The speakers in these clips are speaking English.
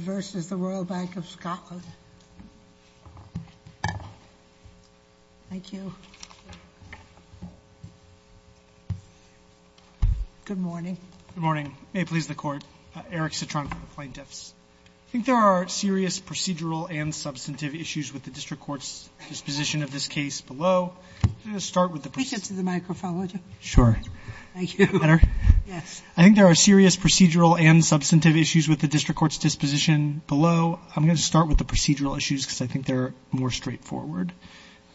versus the Royal Bank of Scotland. Thank you. Good morning. Good morning. May it please the Court. Eric Citron for the Plaintiffs. I think there are serious procedural and substantive issues with the District Court's disposition of this case below. I'm going to start with the procedural issues, because I think they're more straightforward.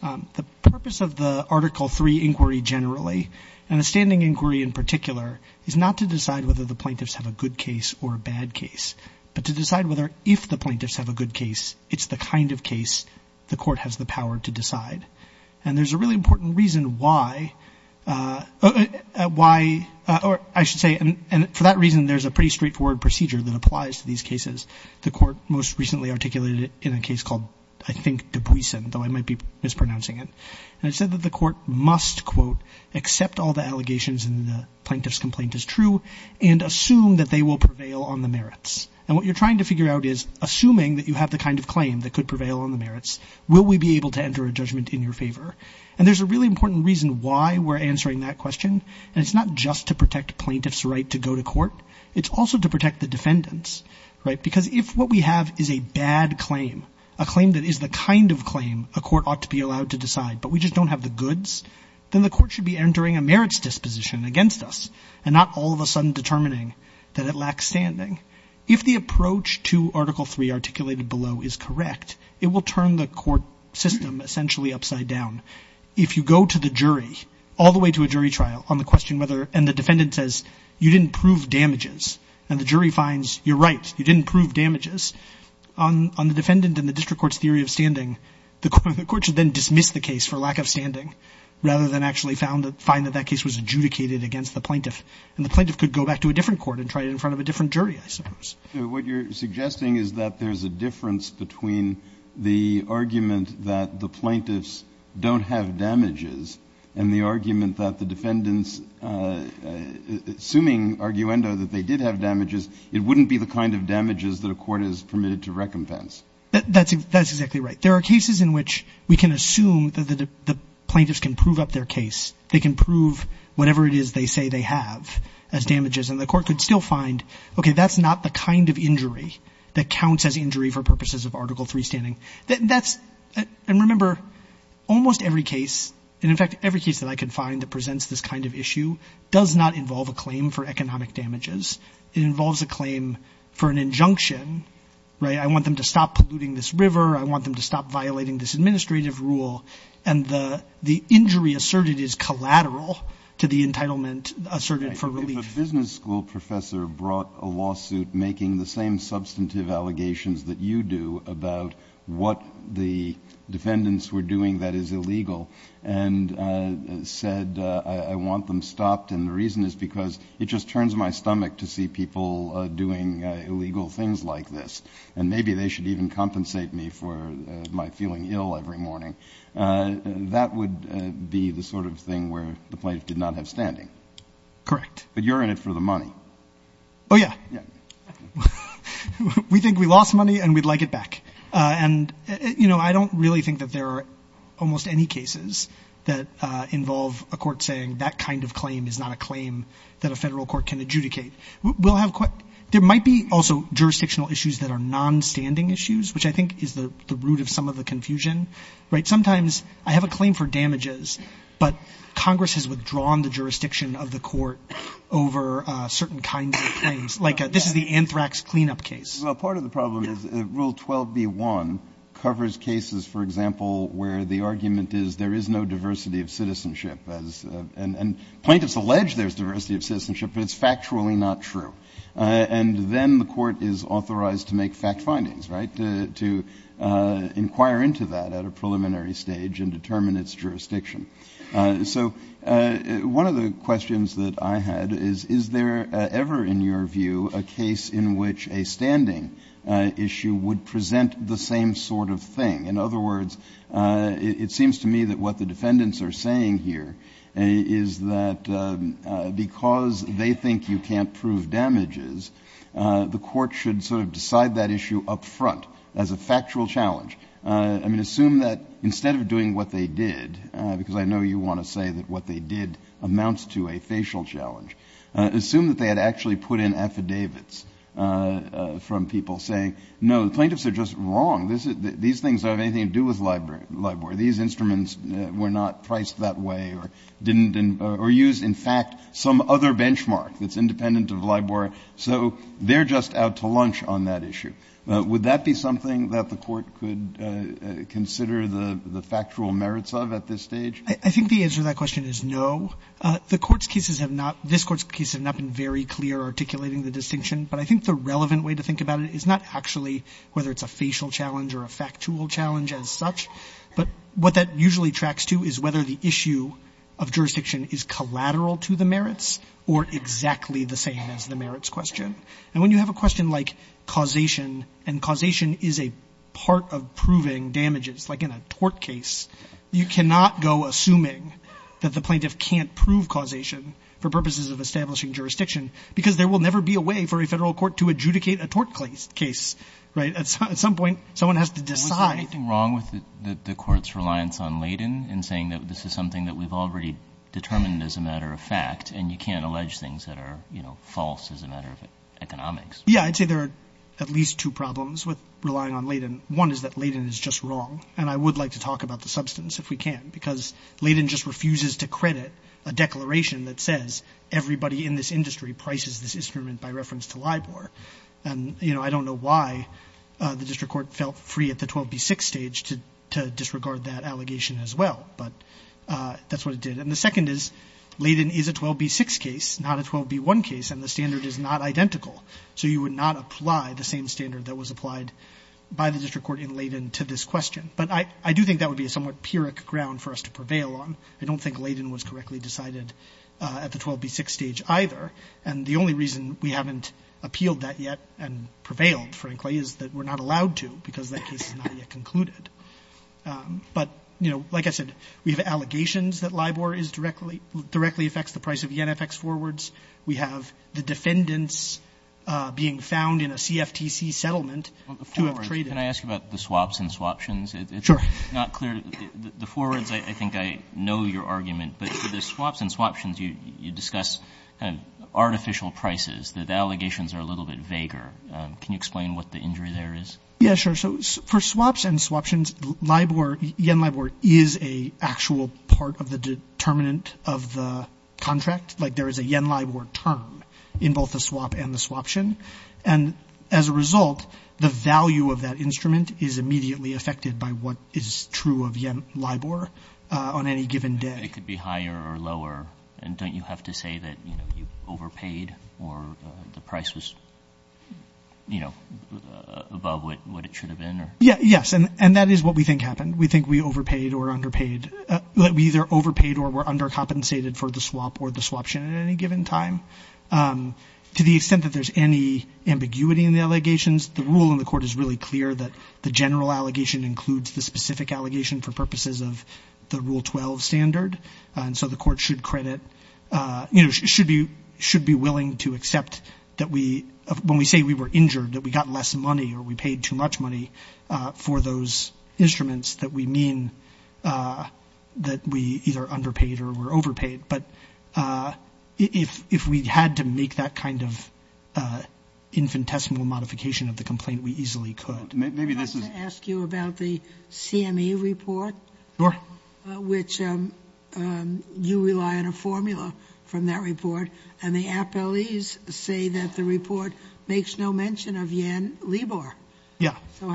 The purpose of the Article 3 inquiry generally, and the standing inquiry in particular, is not to decide whether the plaintiffs have a good case or a bad case, but to decide whether, if the plaintiffs have a good case, it's the kind of case the Court has the power to decide. And there's a really important reason why, or I should say, and for that reason there's a pretty straightforward procedure that applies to these cases. The Court most recently articulated it in a case called, I think, Dubuisson, though I might be mispronouncing it. And it said that the Court must, quote, accept all the allegations in the plaintiff's complaint as true and assume that they will prevail on the merits. And what you're trying to figure out is, assuming that you have the kind of claim that could prevail on the merits, will we be able to understand why we're answering that question? And it's not just to protect the plaintiff's right to go to court. It's also to protect the defendants, right? Because if what we have is a bad claim, a claim that is the kind of claim a court ought to be allowed to decide, but we just don't have the goods, then the Court should be entering a merits disposition against us and not all of a sudden determining that it lacks standing. If the approach to Article 3 articulated below is correct, it will turn the court system essentially upside down. If you go to the jury, all the way to a jury trial, on the question whether — and the defendant says, you didn't prove damages, and the jury finds, you're right, you didn't prove damages, on the defendant and the district court's theory of standing, the Court should then dismiss the case for lack of standing rather than actually find that that case was adjudicated against the plaintiff. And the plaintiff could go back to a different court and try it in front of a different jury, I suppose. Breyer. What you're suggesting is that there's a difference between the argument that the plaintiffs don't have damages and the argument that the defendants, assuming arguendo that they did have damages, it wouldn't be the kind of damages that a court is permitted to recompense. Gershengorn That's exactly right. There are cases in which we can assume that the plaintiffs can prove up their case. They can prove whatever it is they say they have as damages, and the court could still find, okay, that's not the kind of injury that counts as injury for purposes of Article III standing. That's — and remember, almost every case, and in fact, every case that I could find that presents this kind of issue, does not involve a claim for economic damages. It involves a claim for an injunction, right? I want them to stop polluting this river. I want them to stop violating this administrative rule. And the injury asserted is collateral to the entitlement asserted for relief. Kennedy If a business school professor brought a lawsuit making the same substantive allegations that you do about what the defendants were doing that is illegal, and said, I want them stopped, and the reason is because it just turns my stomach to see people doing illegal things like this, and maybe they should even compensate me for my feeling ill every morning. That would be the sort of thing where the plaintiff did not have Gershengorn Correct. Kennedy But you're in it for the money. Gershengorn Oh, yeah. Kennedy Yeah. Gershengorn We think we lost money, and we'd like it back. And, you know, I don't really think that there are almost any cases that involve a court saying that kind of claim is not a claim that a Federal court can adjudicate. We'll have — there might be also jurisdictional issues that are non-standing issues, which I think is the root of some of the confusion, right? Sometimes I have a claim for damages, but Congress has withdrawn the jurisdiction of the court over certain kinds of claims. Like this is the anthrax cleanup case. Kennedy Well, part of the problem is Rule 12b-1 covers cases, for example, where the argument is there is no diversity of citizenship, and plaintiffs allege there's diversity of citizenship, but it's factually not true. And then the court is authorized to make fact findings, right, to inquire into that at a preliminary stage and determine its jurisdiction. So one of the questions that I had is, is there ever, in your view, a case in which a standing issue would present the same sort of thing? In other words, it seems to me that what the defendants are saying here is that because they think you could decide that issue up front as a factual challenge — I mean, assume that instead of doing what they did, because I know you want to say that what they did amounts to a facial challenge — assume that they had actually put in affidavits from people saying, no, the plaintiffs are just wrong. These things don't have anything to do with LIBOR. These instruments were not priced that way or didn't — or use, in fact, some other issue. Would that be something that the court could consider the factual merits of at this stage? I think the answer to that question is no. The Court's cases have not — this Court's case has not been very clear articulating the distinction, but I think the relevant way to think about it is not actually whether it's a facial challenge or a factual challenge as such, but what that usually tracks to is whether the issue of jurisdiction is collateral to the merits or exactly the same as the merits question. And when you have a question like causation, and causation is a part of proving damages, like in a tort case, you cannot go assuming that the plaintiff can't prove causation for purposes of establishing jurisdiction, because there will never be a way for a federal court to adjudicate a tort case, right? At some point, someone has to decide — Was there anything wrong with the Court's reliance on Layton in saying that this is something that we've already determined as a matter of fact, and you can't allege things that are, you know, false as a matter of economics? Yeah, I'd say there are at least two problems with relying on Layton. One is that Layton is just wrong, and I would like to talk about the substance if we can, because Layton just refuses to credit a declaration that says everybody in this industry prices this instrument by reference to LIBOR. And, you know, I don't know why the District Court felt free at the 12B6 stage to disregard that allegation as well, but that's what it did. And the second is Layton is a 12B6 case, not a 12B1 case, and the standard is not identical. So you would not apply the same standard that was applied by the District Court in Layton to this question. But I do think that would be a somewhat pyrrhic ground for us to prevail on. I don't think Layton was correctly decided at the 12B6 stage either, and the only reason we haven't appealed that yet and prevailed, frankly, is that we're not allowed to because that case is not yet concluded. But, you know, like I said, we have allegations that LIBOR is directly affects the price of YenFX forwards. We have the defendants being found in a CFTC settlement to have traded. Well, the forwards, can I ask about the swaps and swaptions? It's not clear. The forwards, I think I know your argument, but for the swaps and swaptions, you discuss kind of artificial prices. The allegations are a little bit vaguer. Can you explain what the injury there is? Yeah, sure. So for swaps and swaptions, LIBOR, Yen LIBOR is an actual part of the determinant of the contract. Like there is a Yen LIBOR term in both the swap and the swaption. And as a result, the value of that instrument is immediately affected by what is true of Yen LIBOR on any given day. It could be higher or lower. And don't you have to say that, you know, you overpaid or the price was, you know, above what it should have been? Yeah, yes. And that is what we think happened. We think we overpaid or underpaid. We either overpaid or were undercompensated for the swap or the swaption at any given time. To the extent that there's any ambiguity in the allegations, the rule in the court is really clear that the general allegation includes the specific allegation for purposes of the court should credit, you know, should be willing to accept that we, when we say we were injured, that we got less money or we paid too much money for those instruments that we mean that we either underpaid or were overpaid. But if we had to make that kind of infinitesimal modification of the complaint, we easily could. I'd like to ask you about the CME report, which you rely on a formula from that report. And the appellees say that the report makes no mention of Yen LIBOR. So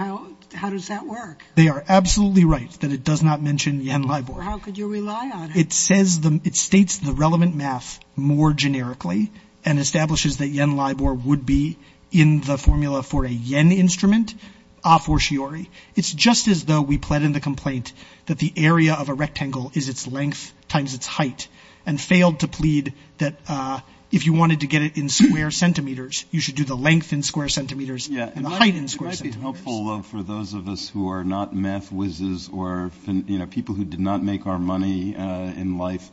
how does that work? They are absolutely right that it does not mention Yen LIBOR. How could you rely on it? It states the relevant math more generically and establishes that Yen LIBOR would be in the formula for a Yen instrument, a fortiori. It's just as though we pled in the complaint that the area of a rectangle is its length times its height and failed to plead that if you wanted to get it in square centimeters, you should do the length in square centimeters and the height in square centimeters. Yeah. It might be helpful, though, for those of us who are not math whizzes or, you know, people who did not make our money in life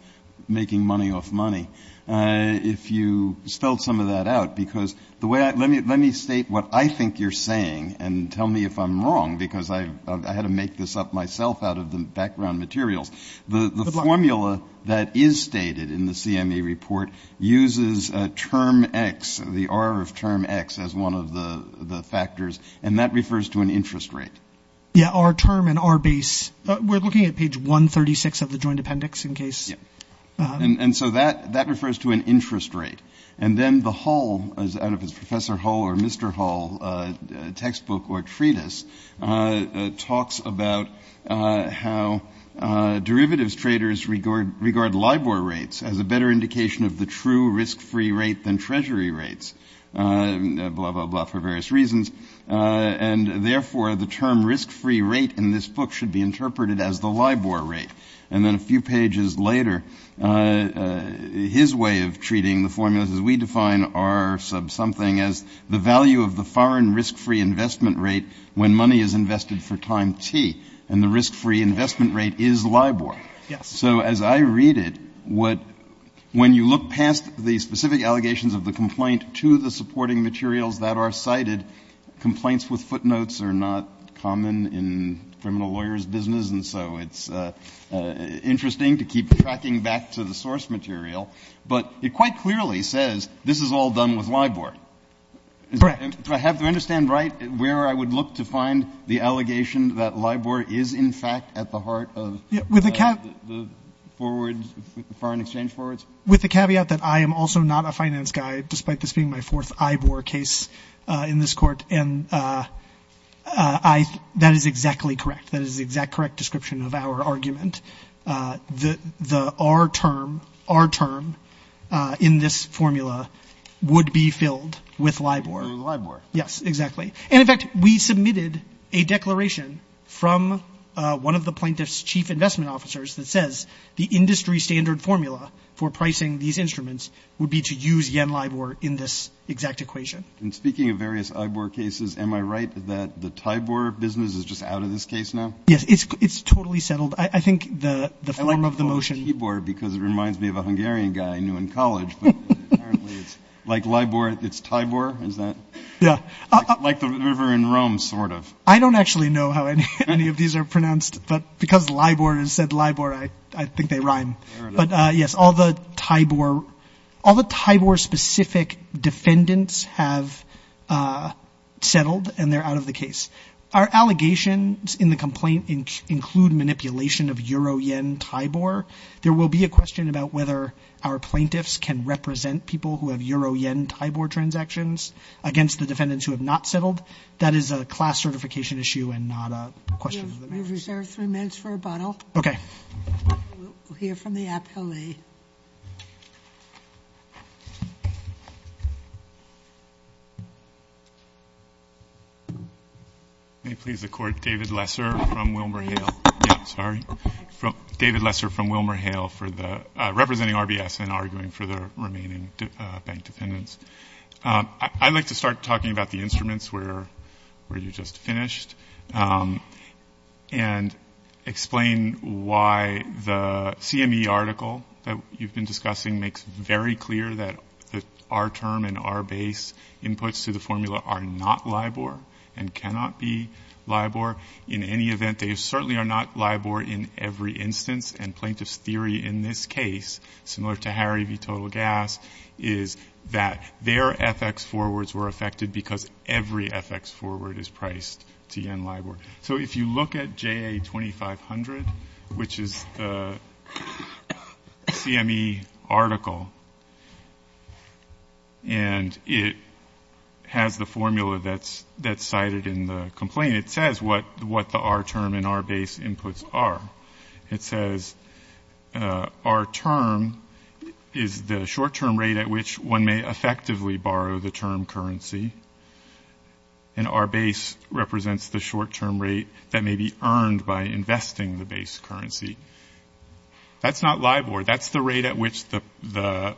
making money off money, if you spelled some of that out, because the way I let me let me state what I think you're saying and tell me if I'm wrong, because I had to make this up myself out of the background materials. The formula that is stated in the CME report uses a term X, the R of term X, as one of the factors, and that refers to an interest rate. Yeah, R term and R base. We're looking at page 136 of the joint appendix in case. Yeah. And so that that refers to an interest rate. And then the whole is out of his professor whole or Mr. Hall textbook or treatise talks about how derivatives traders regard regard LIBOR rates as a better indication of the true risk free rate than Treasury rates, blah, blah, blah, for various reasons. And therefore, the term risk free rate in this book should be interpreted as the LIBOR rate. And then a few pages later, his way of treating the formulas as we define are sub something as the value of the foreign risk free investment rate when money is invested for time T and the risk free investment rate is LIBOR. Yes. So as I read it, what when you look past the specific allegations of the complaint to the supporting materials that are cited, complaints with footnotes are not common in criminal lawyers business. And so it's interesting to keep tracking back to the source material. But it quite clearly says this is all done with LIBOR. Correct. Do I have to understand right where I would look to find the allegation that LIBOR is, in fact, at the heart of the forward foreign exchange forwards with the caveat that I am also not a finance guy, despite this being my fourth IBOR case in this court. And I that is exactly correct. That is the exact correct description of our argument. The the our term, our term in this formula would be filled with LIBOR. With LIBOR. Yes, exactly. And in fact, we submitted a declaration from one of the plaintiffs chief investment officers that says the industry standard formula for pricing these instruments would be to use yen LIBOR in this exact equation. And speaking of various IBOR cases, am I right that the TIBOR business is just out of this case now? Yes, it's it's totally settled. I think the the form of the motion. I like the word TIBOR because it reminds me of a Hungarian guy I knew in college. But apparently it's like LIBOR, it's TIBOR. Is that like the river in Rome? Sort of. I don't actually know how any of these are pronounced, but because LIBOR is said LIBOR, I think they rhyme. But yes, all the TIBOR, all the TIBOR specific defendants have settled and they're out of the case. Our allegations in the complaint include manipulation of euro, yen, TIBOR. There will be a question about whether our plaintiffs can represent people who have euro, yen, TIBOR transactions against the defendants who have not settled. That is a class certification issue and not a question. We've reserved three minutes for rebuttal. OK, we'll hear from the appellee. May it please the court, David Lesser from WilmerHale. Sorry, David Lesser from WilmerHale representing RBS and arguing for the remaining bank defendants. I'd like to start talking about the instruments where you just finished and explain why the CME article that you've been discussing makes very clear that our term and our base inputs to the formula are not LIBOR and cannot be LIBOR. In any event, they certainly are not LIBOR in every instance. And plaintiff's theory in this case, similar to Harry v. Total Gas, is that their FX forwards were affected because every FX forward is priced to yen LIBOR. So if you look at JA2500, which is the CME article, and it has the formula that's cited in the complaint, it says what the our term and our base inputs are. It says our term is the short-term rate at which one may effectively borrow the term currency. And our base represents the short-term rate that may be earned by investing the base currency. That's not LIBOR. That's the rate at which the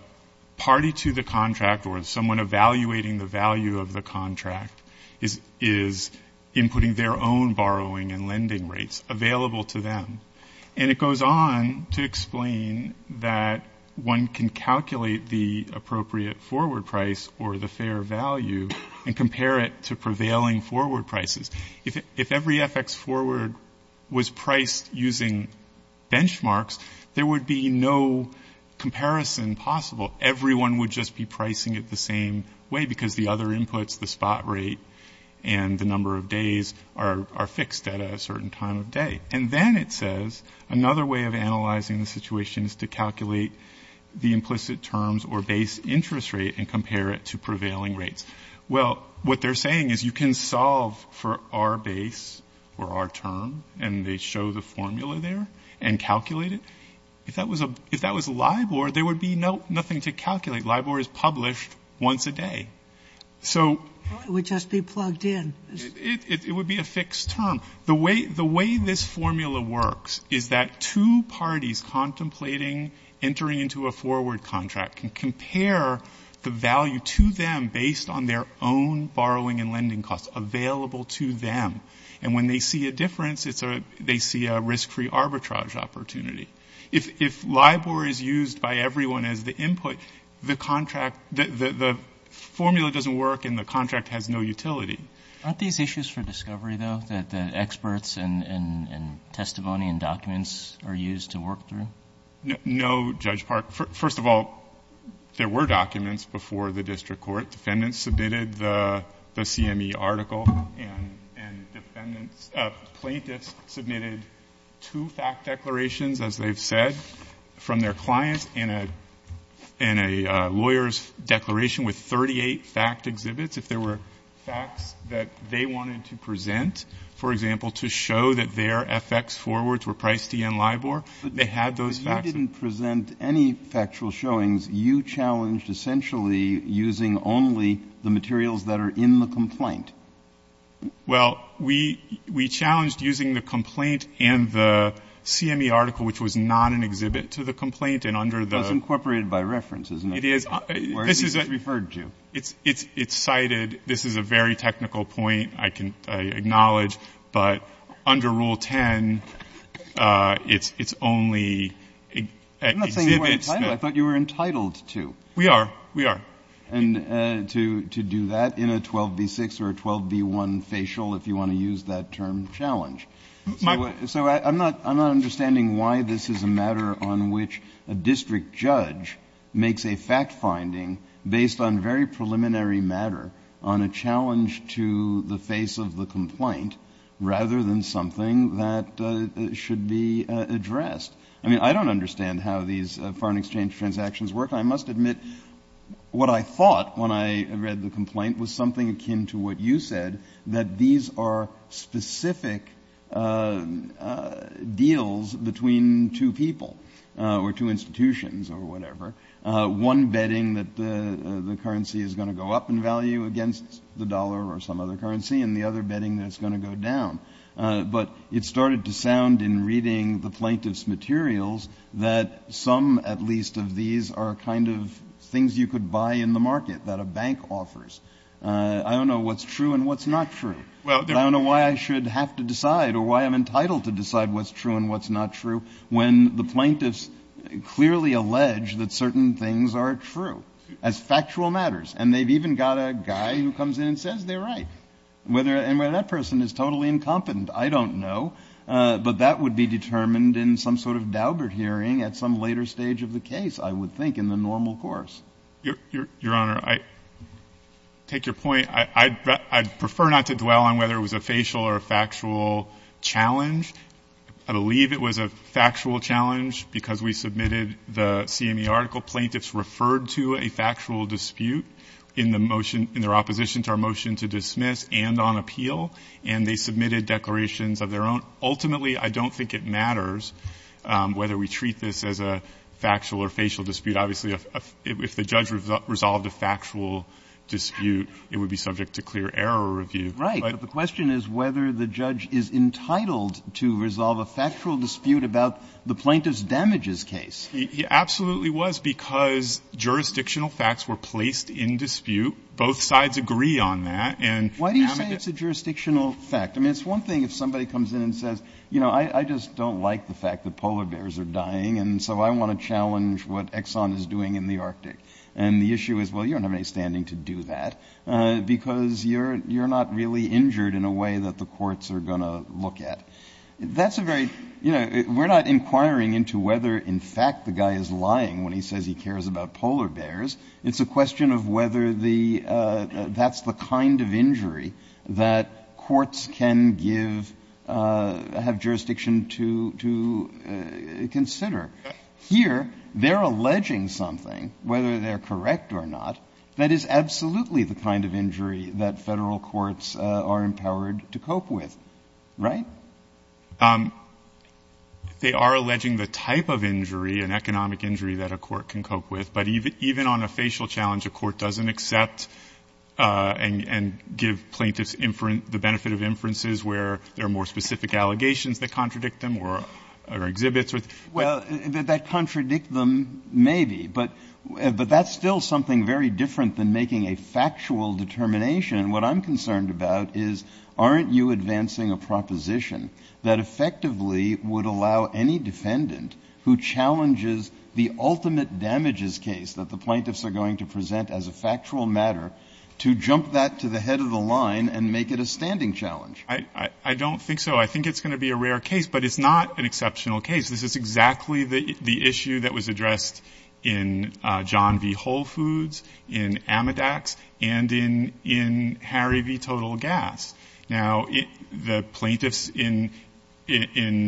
party to the contract or someone evaluating the value of the contract is inputting their own borrowing and lending rates available to them. And it goes on to explain that one can calculate the appropriate forward price or the fair value and compare it to prevailing forward prices. If every FX forward was priced using benchmarks, there would be no comparison possible. Everyone would just be pricing it the same way because the other inputs, the spot rate, and the number of days are fixed at a certain time of day. And then it says another way of analyzing the situation is to calculate the implicit terms or base interest rate and compare it to prevailing rates. Well, what they're saying is you can solve for our base or our term, and they show the formula there and calculate it. If that was LIBOR, there would be nothing to calculate. LIBOR is published once a day. So we just be plugged in. It would be a fixed term. The way this formula works is that two parties contemplating entering into a forward contract can compare the value to them based on their own borrowing and lending costs available to them. And when they see a difference, they see a risk-free arbitrage opportunity. If LIBOR is used by everyone as the input, the formula doesn't work and the contract has no utility. Aren't these issues for discovery, though, that the experts and testimony and documents are used to work through? No, Judge Park. First of all, there were documents before the district court. Defendants submitted the CME article and plaintiffs submitted two fact declarations, as they've said, from their clients and a lawyer's declaration with 38 fact exhibits. If there were facts that they wanted to present, for example, to show that their FX forwards were priced in LIBOR, they had those facts. But you didn't present any factual showings. You challenged essentially using only the materials that are in the complaint. Well, we challenged using the complaint and the CME article, which was not an exhibit, to the complaint. That's incorporated by reference, isn't it? It is. Where is this referred to? It's cited. This is a very technical point, I can acknowledge. But under Rule 10, it's only at exhibits. I'm not saying you weren't entitled. I thought you were entitled to. We are. We are. And to do that in a 12b-6 or a 12b-1 facial, if you want to use that term, challenge. So I'm not understanding why this is a matter on which a district judge makes a fact finding based on very preliminary matter on a challenge to the face of the complaint rather than something that should be addressed. I mean, I don't understand how these foreign exchange transactions work. I must admit what I thought when I read the complaint was something akin to what you said about specific deals between two people or two institutions or whatever. One betting that the currency is going to go up in value against the dollar or some other currency, and the other betting that it's going to go down. But it started to sound in reading the plaintiff's materials that some, at least, of these are kind of things you could buy in the market that a bank offers. I don't know what's true and what's not true. I don't know why I should have to decide or why I'm entitled to decide what's true and what's not true when the plaintiffs clearly allege that certain things are true as factual matters. And they've even got a guy who comes in and says they're right. And whether that person is totally incompetent, I don't know. But that would be determined in some sort of Daubert hearing at some later stage of the case, I would think, in the normal course. Your Honor, I take your point. I'd prefer not to dwell on whether it was a facial or a factual challenge. I believe it was a factual challenge because we submitted the CME article. Plaintiffs referred to a factual dispute in their opposition to our motion to dismiss and on appeal, and they submitted declarations of their own. Ultimately, I don't think it matters whether we treat this as a factual or facial dispute. Obviously, if the judge resolved a factual dispute, it would be subject to clear error review. Right. But the question is whether the judge is entitled to resolve a factual dispute about the plaintiff's damages case. He absolutely was because jurisdictional facts were placed in dispute. Both sides agree on that. Why do you say it's a jurisdictional fact? I mean, it's one thing if somebody comes in and says, you know, I just don't like the fact that polar bears are dying, and so I want to challenge what Exxon is doing in the Arctic. And the issue is, well, you don't have any standing to do that because you're not really injured in a way that the courts are going to look at. That's a very, you know, we're not inquiring into whether, in fact, the guy is lying when he says he cares about polar bears. It's a question of whether that's the kind of injury that courts can give, have jurisdiction to consider. Here, they're alleging something, whether they're correct or not, that is absolutely the kind of injury that Federal courts are empowered to cope with. Right? They are alleging the type of injury, an economic injury, that a court can cope with. But even on a facial challenge, a court doesn't accept and give plaintiffs the benefit of inferences where there are more specific allegations that contradict them or exhibits or the like. Well, that contradict them, maybe. But that's still something very different than making a factual determination. What I'm concerned about is, aren't you advancing a proposition that effectively would allow any defendant who challenges the ultimate damages case that the plaintiffs are going to present as a factual matter to jump that to the head of the line and make it a standing challenge? I don't think so. I think it's going to be a rare case. But it's not an exceptional case. This is exactly the issue that was addressed in John v. Whole Foods, in Amidax, and in Harry v. Total Gas. Now, the plaintiffs in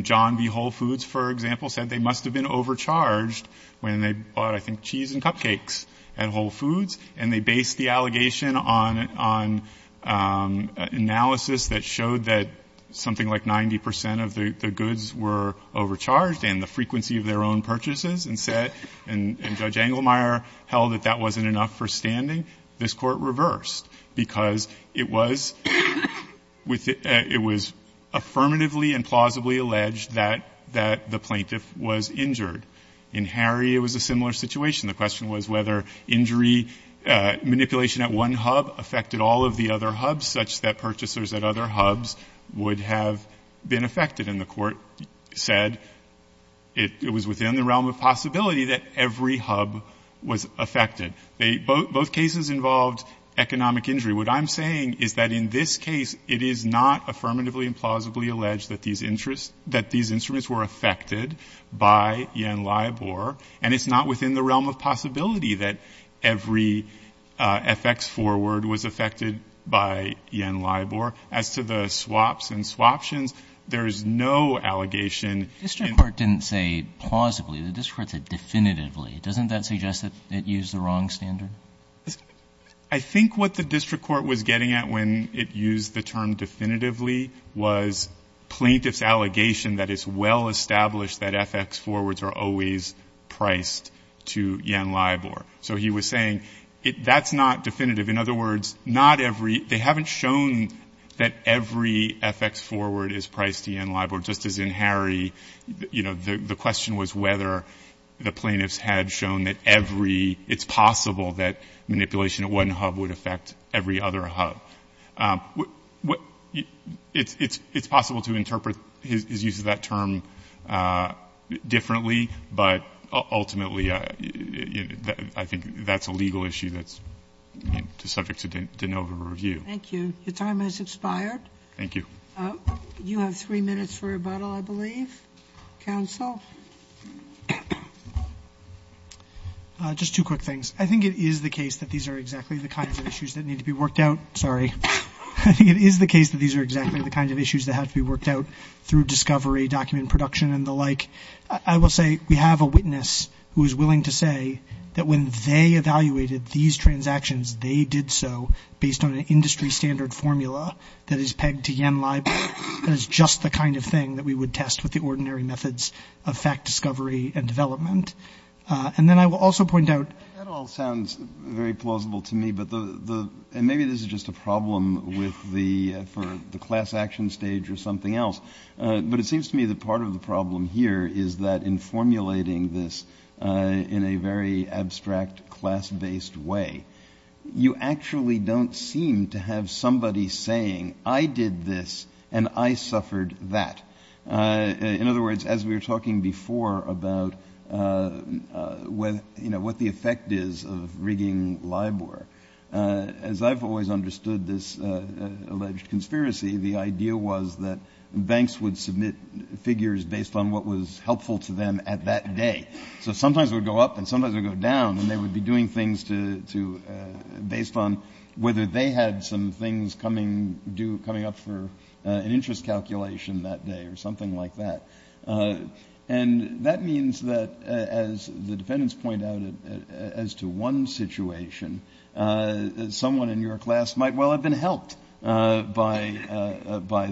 John v. Whole Foods, for example, said they must have been overcharged when they bought, I think, cheese and cupcakes at Whole Foods. And they based the allegation on analysis that showed that something like 90 percent of the goods were overcharged and the frequency of their own purchases and said, and Judge Engelmeyer held that that wasn't enough for standing. This Court reversed because it was affirmatively and plausibly alleged that the plaintiff was injured. In Harry, it was a similar situation. The question was whether injury manipulation at one hub affected all of the other hubs such that purchasers at other hubs would have been affected. And the Court said it was within the realm of possibility that every hub was affected. Both cases involved economic injury. What I'm saying is that in this case, it is not affirmatively and plausibly alleged that these instruments were affected by Yen-Lai Bor, and it's not within the realm of possibility that every FX forward was affected by Yen-Lai Bor. As to the swaps and swaptions, there is no allegation. District Court didn't say plausibly. The district court said definitively. Doesn't that suggest that it used the wrong standard? I think what the district court was getting at when it used the term definitively was plaintiff's allegation that it's well established that FX forwards are always priced to Yen-Lai Bor. So he was saying that's not definitive. In other words, not every – they haven't shown that every FX forward is priced to Yen-Lai Bor, just as in Harry. You know, the question was whether the plaintiffs had shown that every – it's possible that manipulation at one hub would affect every other hub. It's possible to interpret his use of that term differently, but ultimately I think that's a legal issue that's subject to no review. Thank you. Your time has expired. Thank you. You have three minutes for rebuttal, I believe. Counsel? Just two quick things. I think it is the case that these are exactly the kind of issues that need to be worked out – sorry. I think it is the case that these are exactly the kind of issues that have to be worked out through discovery, document production, and the like. I will say we have a witness who is willing to say that when they evaluated these transactions, they did so based on an industry standard formula that is pegged to Yen-Lai Bor. That is just the kind of thing that we would test with the ordinary methods of fact discovery and development. And then I will also point out – That all sounds very plausible to me, but the – and maybe this is just a problem with the – for the class action stage or something else, but it seems to me that part of the problem here is that in formulating this in a very abstract, class-based way, you actually don't seem to have somebody saying, I did this and I suffered that. In other words, as we were talking before about what the effect is of rigging Yen-Lai Bor, as I've always understood this alleged conspiracy, the idea was that banks would submit figures based on what was helpful to them at that day. So sometimes it would go up and sometimes it would go down, and they would be doing things to – based on whether they had some things coming up for an interest calculation that day or something like that. And that means that, as the defendants point out, as to one situation, someone in your class might well have been helped by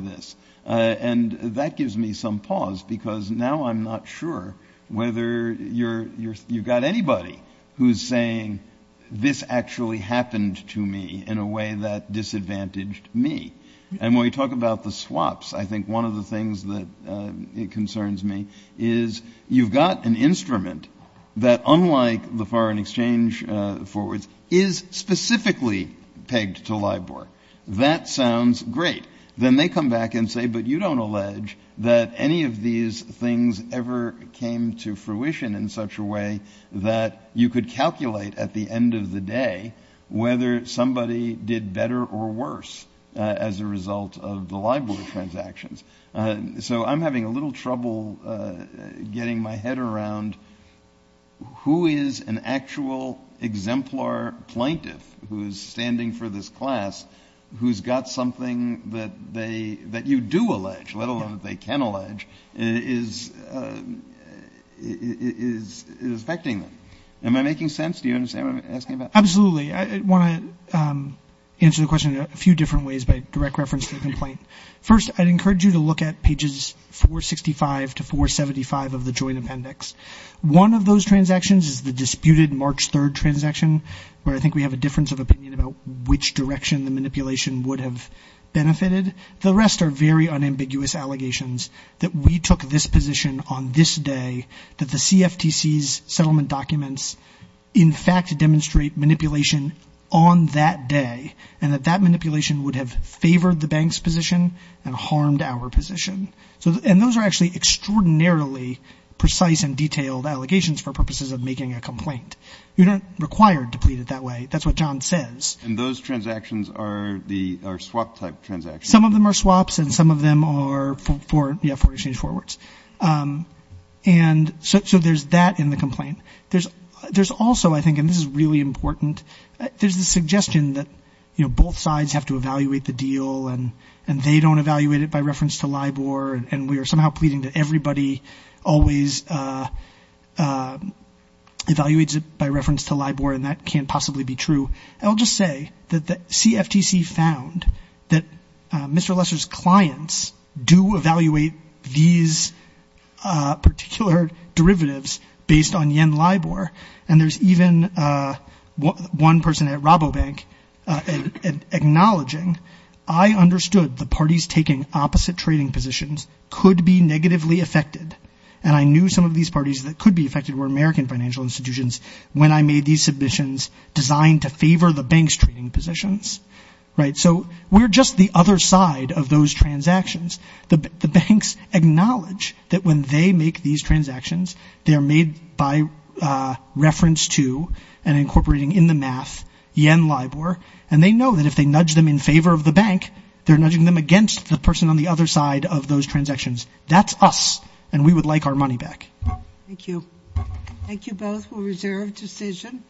this. And that gives me some pause because now I'm not sure whether you've got anybody who's saying this actually happened to me in a way that disadvantaged me. And when we talk about the swaps, I think one of the things that concerns me is you've got an instrument that, unlike the foreign exchange forwards, is specifically pegged to Lai Bor. That sounds great. Then they come back and say, but you don't allege that any of these things ever came to fruition in such a way that you could calculate at the end of the day whether somebody did better or worse as a result of the Lai Bor transactions. So I'm having a little trouble getting my head around who is an actual exemplar plaintiff who's standing for this class who's got something that you do allege, let alone that they can allege, is affecting them. Am I making sense? Do you understand what I'm asking about? Absolutely. I want to answer the question in a few different ways by direct reference to the complaint. First, I'd encourage you to look at pages 465 to 475 of the joint appendix. One of those transactions is the disputed March 3rd transaction, where I think we have a difference of opinion about which direction the manipulation would have benefited. The rest are very unambiguous allegations that we took this position on this day, that the CFTC's settlement documents in fact demonstrate manipulation on that day, and that that manipulation would have favored the bank's position and harmed our position. And those are actually extraordinarily precise and detailed allegations for purposes of making a complaint. You're not required to plead it that way. That's what John says. And those transactions are swap-type transactions. Some of them are swaps and some of them are for exchange forwards. And so there's that in the complaint. There's also, I think, and this is really important, there's the suggestion that both sides have to evaluate the deal and they don't evaluate it by reference to LIBOR, and we are somehow pleading that everybody always evaluates it by reference to LIBOR, and that can't possibly be true. I'll just say that the CFTC found that Mr. Lesser's clients do evaluate these particular derivatives based on yen LIBOR. And there's even one person at Rabobank acknowledging, I understood the parties taking opposite trading positions could be negatively affected, and I knew some of these parties that could be affected were American financial institutions when I made these submissions designed to favor the bank's trading positions. So we're just the other side of those transactions. The banks acknowledge that when they make these transactions, they are made by reference to and incorporating in the math yen LIBOR, and they know that if they nudge them in favor of the bank, they're nudging them against the person on the other side of those transactions. That's us, and we would like our money back. Thank you. Thank you both. We'll reserve decision.